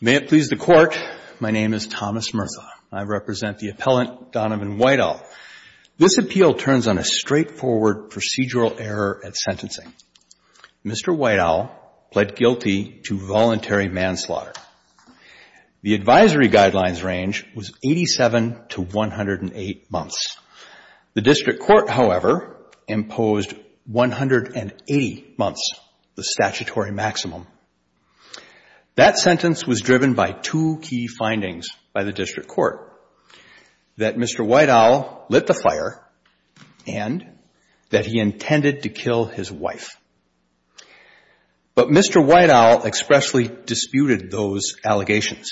May it please the Court, my name is Thomas Murtha. I represent the appellant Donovan White Owl. This appeal turns on a straightforward procedural error at sentencing. Mr. White Owl pled guilty to voluntary manslaughter. The advisory guidelines range was 87 to 108 months. The district court, however, imposed 180 months, the statutory maximum. That sentence was driven by two key findings by the district court, that Mr. White Owl lit the fire and that he intended to kill his wife. But Mr. White Owl expressly disputed those allegations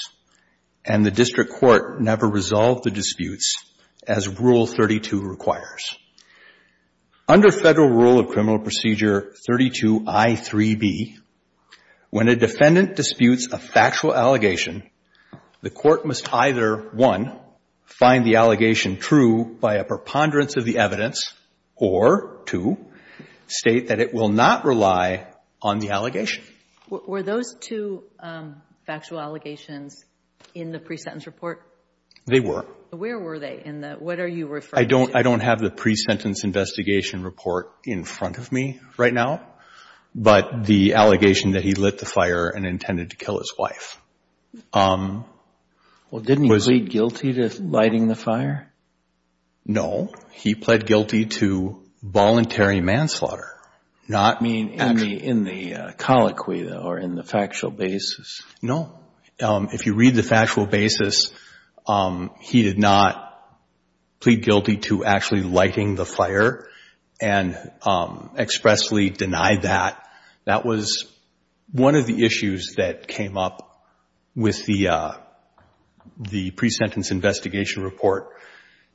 and the district court never resolved the disputes as Rule 32 requires. Under Federal Rule of Criminal Procedure 32i3b, when a defendant disputes a factual allegation, the court must either, one, find the allegation true by a preponderance of the evidence, or two, state that it will not rely on the allegation. Were those two factual allegations in the pre-sentence report? They were. Where were they? What are you referring to? I don't have the pre-sentence investigation report in front of me right now, but the allegation that he lit the fire and intended to kill his wife was Didn't he plead guilty to lighting the fire? No. He pled guilty to voluntary manslaughter. Meaning in the colloquy, though, or in the factual basis? No. If you read the factual basis, he did not plead guilty to actually lighting the fire and expressly denied that. That was one of the issues that came up with the pre-sentence investigation report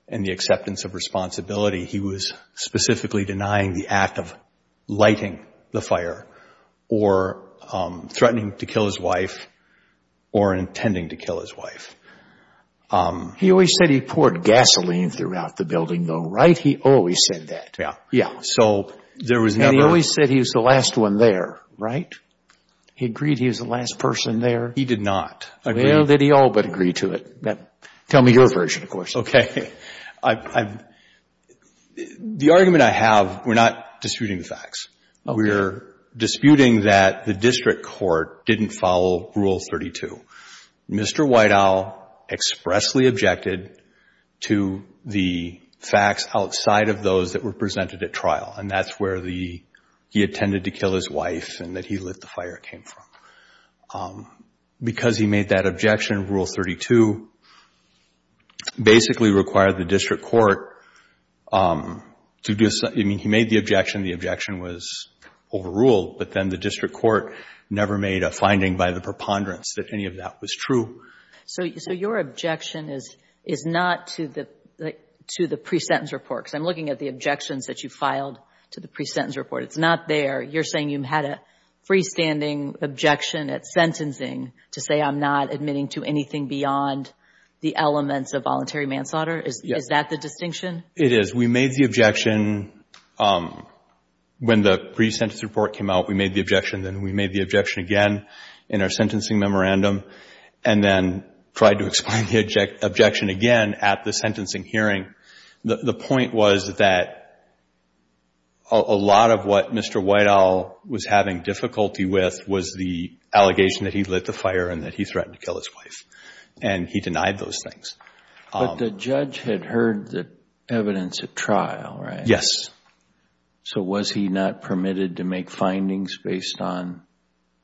and the acceptance of responsibility. He was specifically denying the act of lighting the fire or threatening to kill his wife or intending to kill his He always said he poured gasoline throughout the building, though, right? He always said that. Yeah. Yeah. So there was never And he always said he was the last one there, right? He agreed he was the last person there? He did not agree Well, did he all but agree to it? Tell me your version, of course. Okay. The argument I have, we're not disputing the facts. We're disputing that the district court didn't follow Rule 32. Mr. Whiteow expressedly objected to the facts outside of those that were presented at trial, and that's where the he intended to kill his wife and that he lit the fire came from. Because he made that objection, Rule 32 basically required the district court to do something. I mean, he made the objection. The objection was overruled, but then the district court never made a finding by the preponderance that any of that was true. So your objection is not to the pre-sentence report? Because I'm looking at the objections that you filed to the pre-sentence report. It's not there. You're saying you had a freestanding objection at sentencing to say I'm not admitting to anything beyond the elements of voluntary manslaughter? Yes. Is that the distinction? It is. We made the objection when the pre-sentence report came out. We made the objection, then we made the objection again in our sentencing memorandum, and then tried to explain the sentencing hearing. The point was that a lot of what Mr. Whiteowl was having difficulty with was the allegation that he lit the fire and that he threatened to kill his wife, and he denied those things. But the judge had heard the evidence at trial, right? Yes. So was he not permitted to make findings based on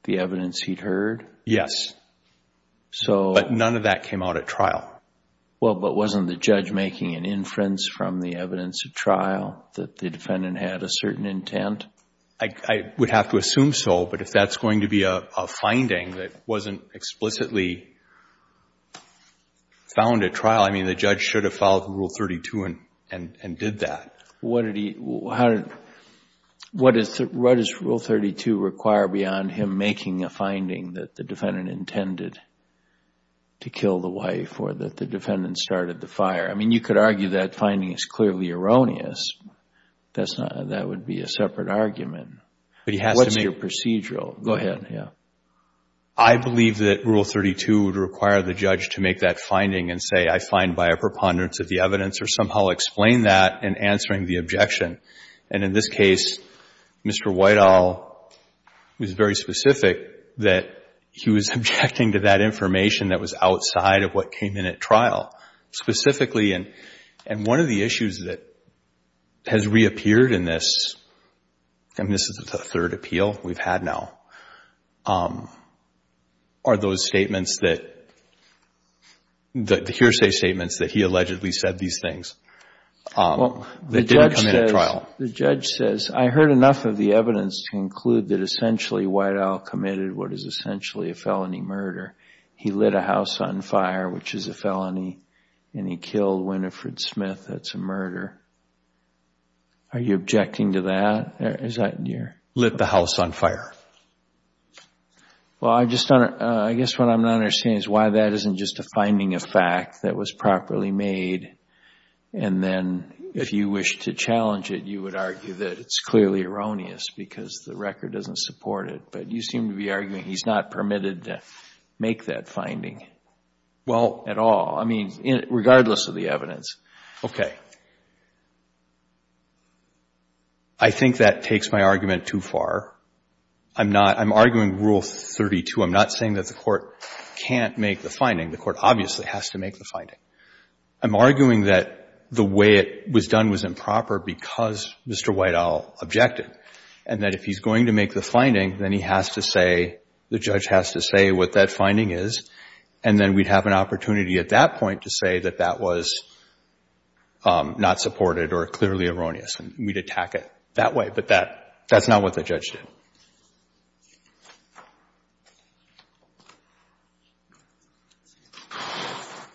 the evidence he'd heard? Yes. But none of that came out at trial. Well, but wasn't the judge making an inference from the evidence at trial that the defendant had a certain intent? I would have to assume so, but if that's going to be a finding that wasn't explicitly found at trial, I mean, the judge should have followed Rule 32 and did that. What does Rule 32 require beyond him making a finding that the defendant intended to kill the wife or that the defendant started the fire? I mean, you could argue that finding is clearly erroneous. That's not — that would be a separate argument. But he has to make — What's your procedural? Go ahead. Yeah. I believe that Rule 32 would require the judge to make that finding and say, I find by a preponderance of the evidence, or somehow explain that in answering the objection. And in this case, Mr. Whiteowl was very specific that he was objecting to that finding and that information that was outside of what came in at trial, specifically. And one of the issues that has reappeared in this — and this is the third appeal we've had now — are those statements that — the hearsay statements that he allegedly said these things that didn't come in at trial. The judge says, I heard enough of the evidence to conclude that essentially Whiteowl committed what is essentially a felony murder. He lit a house on fire, which is a felony, and he killed Winifred Smith. That's a murder. Are you objecting to that? Is that your — Lit the house on fire. Well, I just don't — I guess what I'm not understanding is why that isn't just a finding of fact that was properly made, and then if you wish to challenge it, you would argue that it's not permitted to make that finding at all, I mean, regardless of the evidence. Okay. I think that takes my argument too far. I'm not — I'm arguing Rule 32. I'm not saying that the Court can't make the finding. The Court obviously has to make the finding. I'm arguing that the way it was done was improper because Mr. Whiteowl objected and that if he's going to make the finding, then he has to say — the judge has to say what that finding is, and then we'd have an opportunity at that point to say that that was not supported or clearly erroneous, and we'd attack it that way. But that's not what the judge did.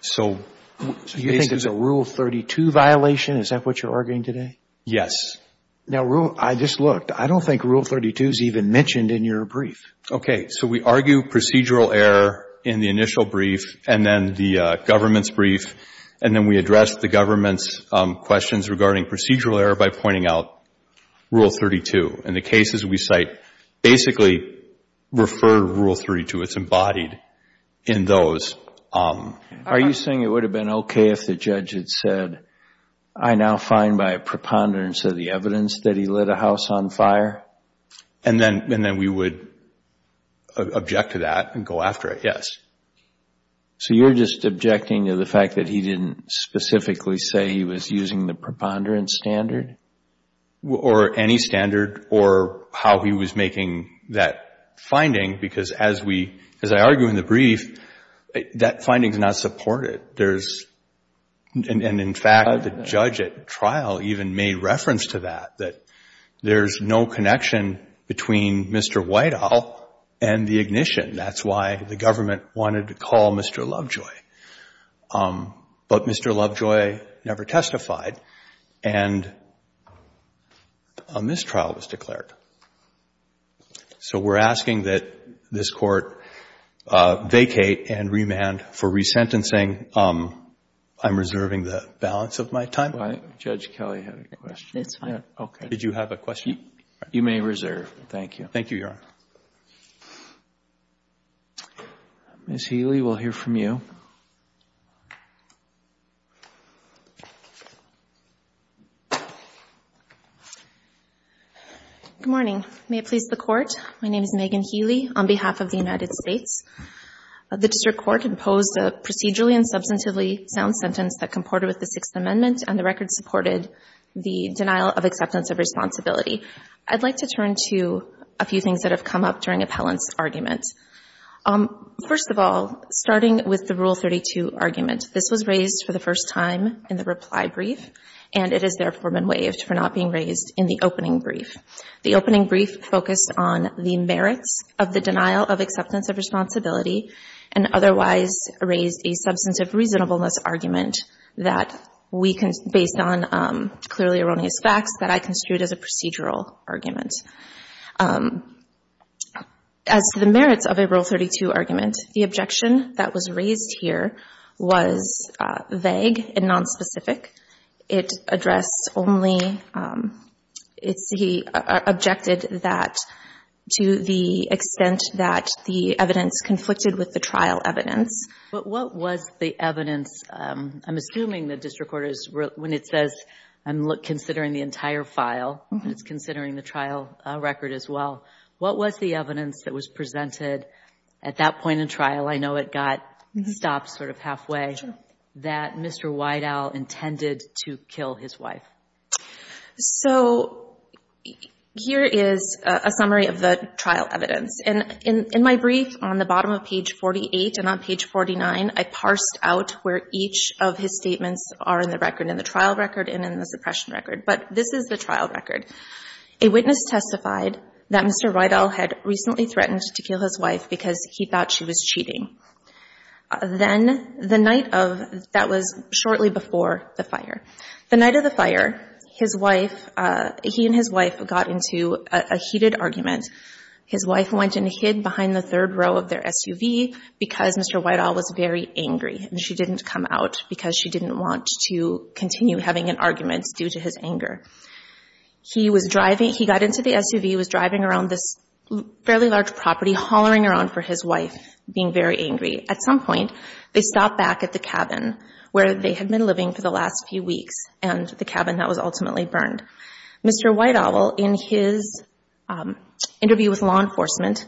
So — Do you think it's a Rule 32 violation? Is that what you're arguing today? Yes. Now, Rule — I just looked. I don't think Rule 32 is even mentioned in your brief. Okay. So we argue procedural error in the initial brief and then the government's brief, and then we address the government's questions regarding procedural error by pointing out Rule 32. And the cases we cite basically refer to Rule 32. It's embodied in those. Are you saying it would have been okay if the judge had said, I now find by a preponderance of the evidence that he lit a house on fire? And then we would object to that and go after it, yes. So you're just objecting to the fact that he didn't specifically say he was using the preponderance standard? Or any standard, or how he was making that finding, because as we — as I argue in the brief, that finding is not supported. There's — and in fact, the judge at trial even made reference to that, that there's no connection between Mr. Whitehall and the ignition. That's why the government wanted to call Mr. Lovejoy. But Mr. Lovejoy never testified, and a mistrial was declared. So we're asking that this Court vacate and remand for resentencing. I'm reserving the balance of my time. Judge Kelly had a question. Did you have a question? You may reserve. Thank you. Thank you, Your Honor. Ms. Healy, we'll hear from you. Good morning. May it please the Court? My name is Megan Healy on behalf of the United States. The district court imposed a procedurally and substantively sound sentence that comported with the Sixth Amendment and the record supported the denial of acceptance of responsibility. I'd like to turn to a few things that have come up during appellant's argument. First of all, starting with the Rule 32 argument, this was raised for the first time in the reply brief, and it has therefore been waived for not being raised in the opening brief. The opening brief focused on the merits of the denial of acceptance of responsibility and otherwise raised a substantive reasonableness argument based on clearly erroneous facts that I construed as a procedural argument. As to the merits of a Rule 32 argument, the objection that was raised here was vague and nonspecific. It addressed only, it's, he objected that to the extent that the evidence conflicted with the trial evidence. But what was the evidence, I'm assuming the district court is, when it says, I'm considering the entire file, it's considering the trial record as well. What was the evidence that was presented at that point in trial, I know it got stopped sort of halfway, that Mr. Weidaul intended to kill his wife? So here is a summary of the trial evidence. And in my brief on the bottom of page 48 and on page 49, I parsed out where each of his statements are in the record, in the trial record and in the suppression record. But this is the trial record. A witness testified that Mr. Weidaul had recently threatened to kill his wife because he thought she was cheating. Then the night of, that was shortly before the fire, the night of the fire, his wife, he and his wife got into a heated argument. His wife went and hid behind the third row of their SUV because Mr. Weidaul was very angry and she didn't come out because she didn't want to continue having an argument due to his anger. He was driving, he got into the SUV, was driving around this fairly large property, hollering around for his wife, being very angry. At some point, they stopped back at the cabin where they had been living for the last few weeks and the cabin that was ultimately burned. Mr. Weidaul, in his interview with law enforcement,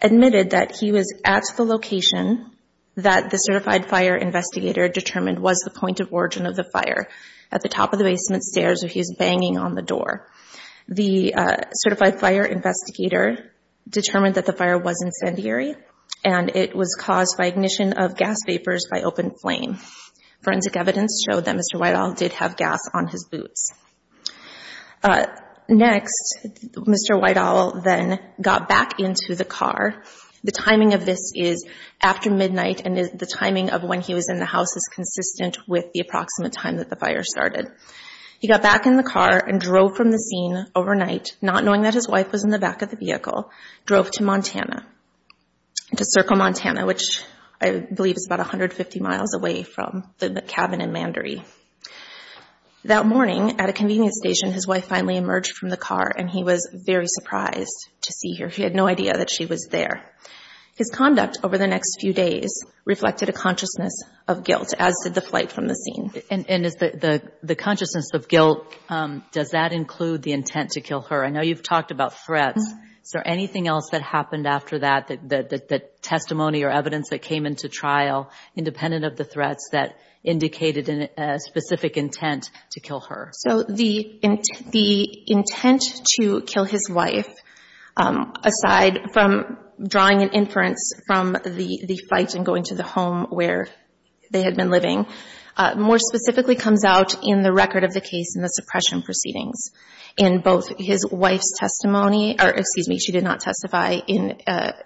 admitted that he was at the location that the certified fire investigator determined was the point of origin of the fire, at the top of the basement stairs where he was banging on the door. The certified fire investigator determined that the fire was incendiary and it was caused by ignition of gas vapors by open flame. Forensic evidence showed that Mr. Weidaul did have gas on his boots. Next, Mr. Weidaul then got back into the car. The timing of this is after midnight and the timing of when he was in the house is consistent with the approximate time that the fire started. He got back in the car and drove from the scene overnight, not knowing that his wife was in the back of the vehicle, drove to Montana, to Circle, Montana, which I believe is about 150 miles away from the cabin in Mandory. That morning, at a convenience station, his wife finally emerged from the car and he was very surprised to see her. He had no idea that she was there. His conduct over the next few days reflected a consciousness of guilt, as did the flight from the scene. And is the consciousness of guilt, does that include the intent to kill her? I know you've talked about threats. Is there anything else that happened after that, that testimony or evidence that came into trial independent of the threats that indicated a specific intent to kill her? So the intent to kill his wife, aside from drawing an inference from the flight and going to the home where they had been living, more specifically comes out in the record of the case in the suppression proceedings. In both his wife's testimony, or excuse me, she did not testify in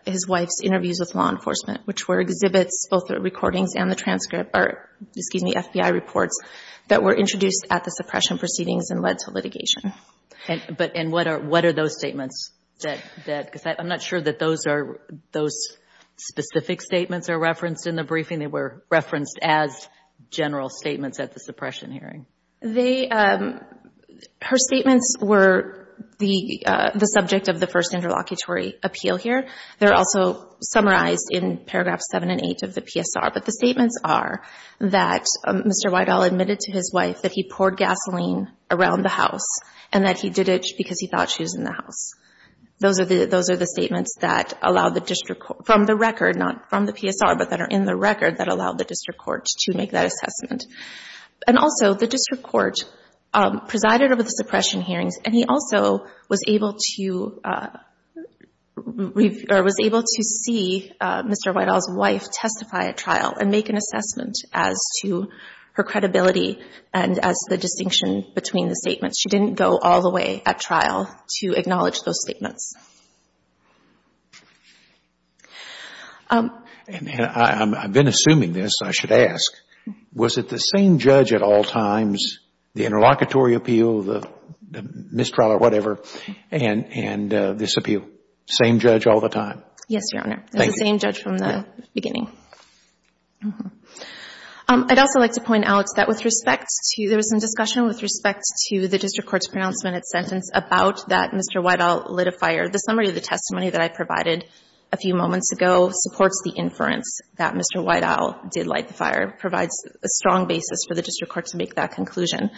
his wife's interviews with law enforcement, which were exhibits, both the recordings and the transcript, or excuse me, FBI reports, that were introduced at the suppression proceedings and led to litigation. But what are those statements? Because I'm not sure that those specific statements are referenced in the briefing. They were referenced as general statements at the suppression hearing. Her statements were the subject of the first interlocutory appeal here. They're also summarized in paragraphs 7 and 8 of the PSR. But the statements are that Mr. Whitehall admitted to his wife that he poured gasoline around the house and that he did it because he thought she was in the house. Those are the statements from the record, not from the PSR, but that are in the record that allowed the district court to make that assessment. And also, the district court presided over the suppression hearings, and he also was able to see Mr. Whitehall's wife testify at trial and make an assessment as to her credibility and as the distinction between the statements. She didn't go all the way at trial to acknowledge those statements. And I've been assuming this, I should ask. Was it the same judge at all times, the interlocutory appeal, the mistrial or whatever, and this appeal? Same judge all the time? Yes, Your Honor. Thank you. It was the same judge from the beginning. I'd also like to point out that with respect to, there was some discussion with respect to the district court's pronouncement at sentence about that Mr. Whitehall lit a fire. The summary of the testimony that I provided a few moments ago supports the inference that Mr. Whitehall did light the fire, provides a strong basis for the district court to make that conclusion.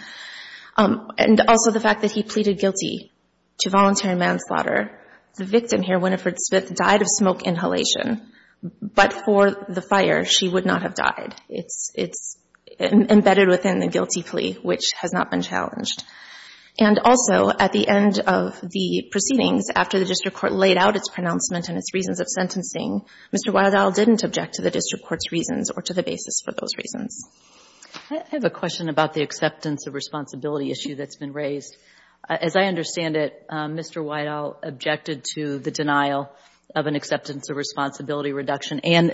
And also the fact that he pleaded guilty to voluntary manslaughter. The victim here, Winifred Smith, died of smoke inhalation, but for the fire, she would not have died. It's embedded within the guilty plea, which has not been challenged. And also, at the end of the proceedings, after the district court laid out its pronouncement and its reasons of sentencing, Mr. Whitehall didn't object to the district court's reasons or to the basis for those reasons. I have a question about the acceptance of responsibility issue that's been raised. As I understand it, Mr. Whitehall objected to the denial of an acceptance of responsibility reduction and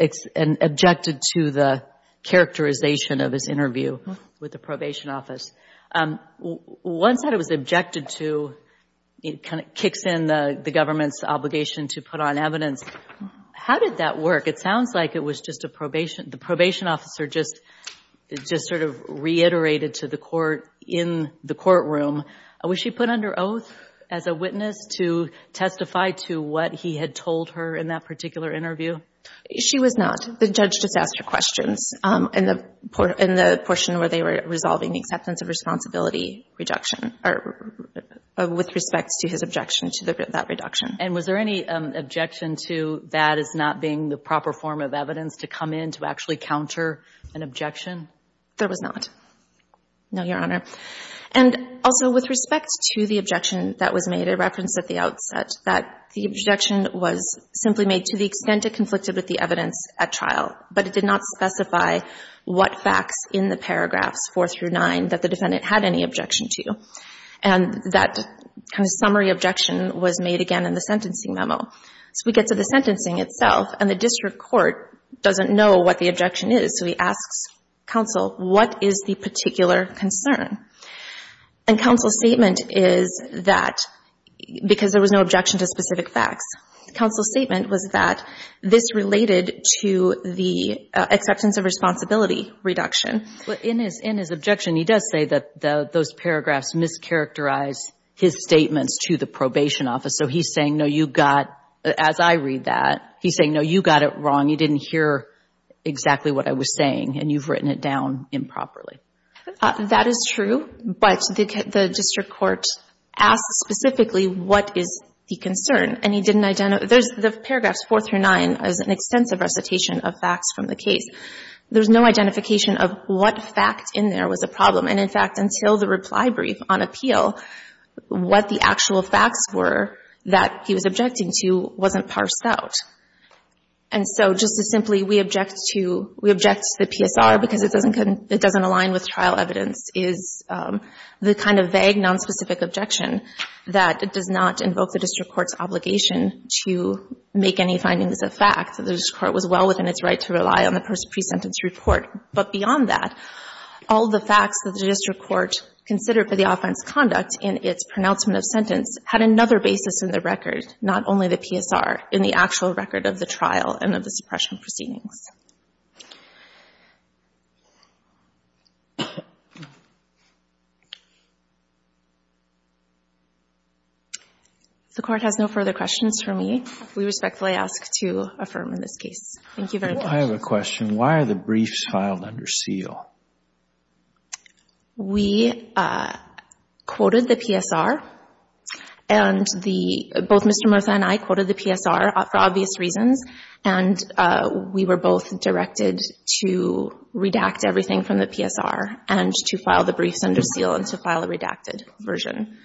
objected to the characterization of his interview with the probation office. Once that it was objected to, it kind of kicks in the government's obligation to put on evidence. How did that work? It sounds like it was just a probation. The probation officer just sort of reiterated to the court in the courtroom. Was she put under oath as a witness to testify to what he had told her in that particular interview? She was not. The judge just asked her questions in the portion where they were resolving the acceptance of responsibility reduction or with respect to his objection to that reduction. And was there any objection to that as not being the proper form of evidence to come in to actually counter an objection? There was not. No, Your Honor. And also, with respect to the objection that was made, a reference at the outset, that the objection was simply made to the extent it conflicted with the evidence at trial, but it did not specify what facts in the paragraphs 4 through 9 that the defendant had any objection to. And that kind of summary objection was made again in the sentencing memo. So we get to the sentencing itself, and the district court doesn't know what the objection is. So he asks counsel, what is the particular concern? And counsel's statement is that because there was no objection to specific facts, counsel's statement was that this related to the acceptance of responsibility reduction. In his objection, he does say that those paragraphs mischaracterized his statements to the probation office. So he's saying, no, you got, as I read that, he's saying, no, you got it wrong. You didn't hear exactly what I was saying, and you've written it down improperly. That is true, but the district court asks specifically, what is the concern? And he didn't identify — there's the paragraphs 4 through 9 as an extensive recitation of facts from the case. There's no identification of what fact in there was a problem. And, in fact, until the reply brief on appeal, what the actual facts were that he was objecting to wasn't parsed out. And so, just as simply, we object to the PSR because it doesn't align with trial evidence, is the kind of vague, nonspecific objection that does not invoke the district court's obligation to make any findings of fact, that the district court was well within its right to rely on the presentence report. But beyond that, all the facts that the district court considered for the offense conduct in its pronouncement of sentence had another basis in the record, not only the PSR, in the actual record of the trial and of the suppression proceedings. If the Court has no further questions for me, we respectfully ask to affirm in this case. Thank you very much. I have a question. Why are the briefs filed under seal? We quoted the PSR and the, both Mr. Murtha and I quoted the PSR for obvious reasons. And we were both directed to redact everything from the PSR and to file the briefs under seal and to file a redacted version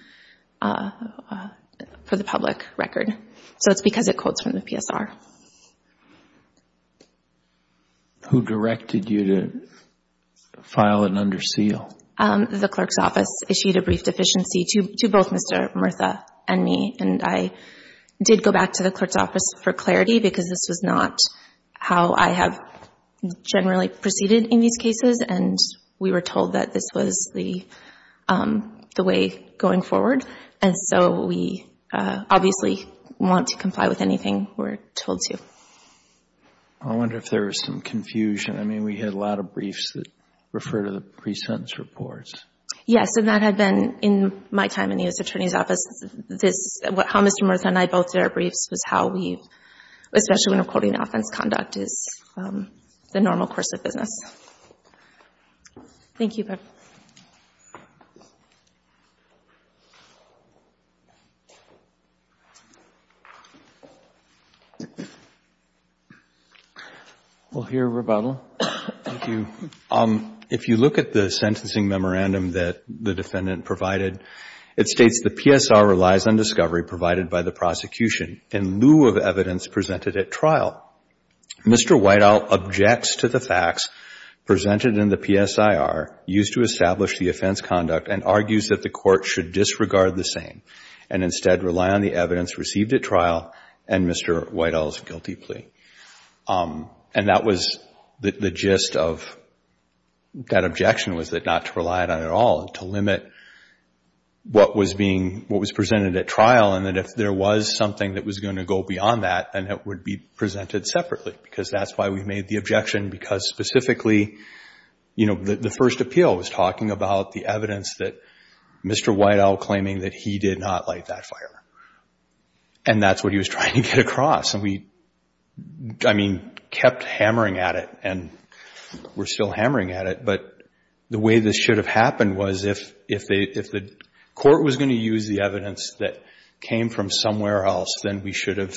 for the public record. So it's because it quotes from the PSR. Who directed you to file it under seal? The clerk's office issued a brief deficiency to both Mr. Murtha and me. And I did go back to the clerk's office for clarity because this was not how I have generally proceeded in these cases. And we were told that this was the way going forward. And so we obviously want to comply with anything we're told to. I wonder if there was some confusion. I mean, we had a lot of briefs that referred to the pre-sentence reports. Yes, and that had been, in my time in the U.S. Attorney's Office, how Mr. Murtha and I both did our briefs was how we, especially when we're quoting offense conduct, is the normal course of business. Thank you. We'll hear rebuttal. Thank you. If you look at the sentencing memorandum that the defendant provided, it states the PSR relies on discovery provided by the prosecution in lieu of evidence presented at trial. Mr. Whiteau objects to the facts presented in the PSIR used to establish the offense conduct and argues that the court should disregard the same and instead rely on the evidence received at trial and Mr. Whiteau's guilty plea. And that was the gist of that objection was that not to rely on it at all, to limit what was being, what was presented at trial, and that if there was something that was going to go beyond that, then it would be presented separately. Because that's why we made the objection, because specifically, you know, the first appeal was talking about the evidence that Mr. Whiteau claiming that he did not light that fire. And that's what he was trying to get across. And we, I mean, kept hammering at it and we're still hammering at it. But the way this should have happened was if the court was going to use the evidence that came from somewhere else, then we should have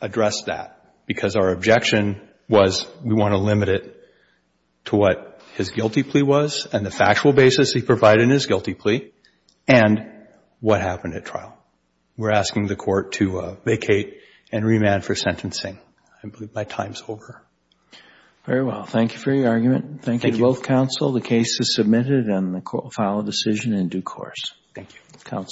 addressed that. Because our objection was we want to limit it to what his guilty plea was and the factual basis he provided in his guilty plea and what happened at trial. We're asking the court to vacate and remand for sentencing. I believe my time's over. Very well. Thank you for your argument. Thank you to both counsel. The case is submitted and the court will file a decision in due course. Thank you. Counsel.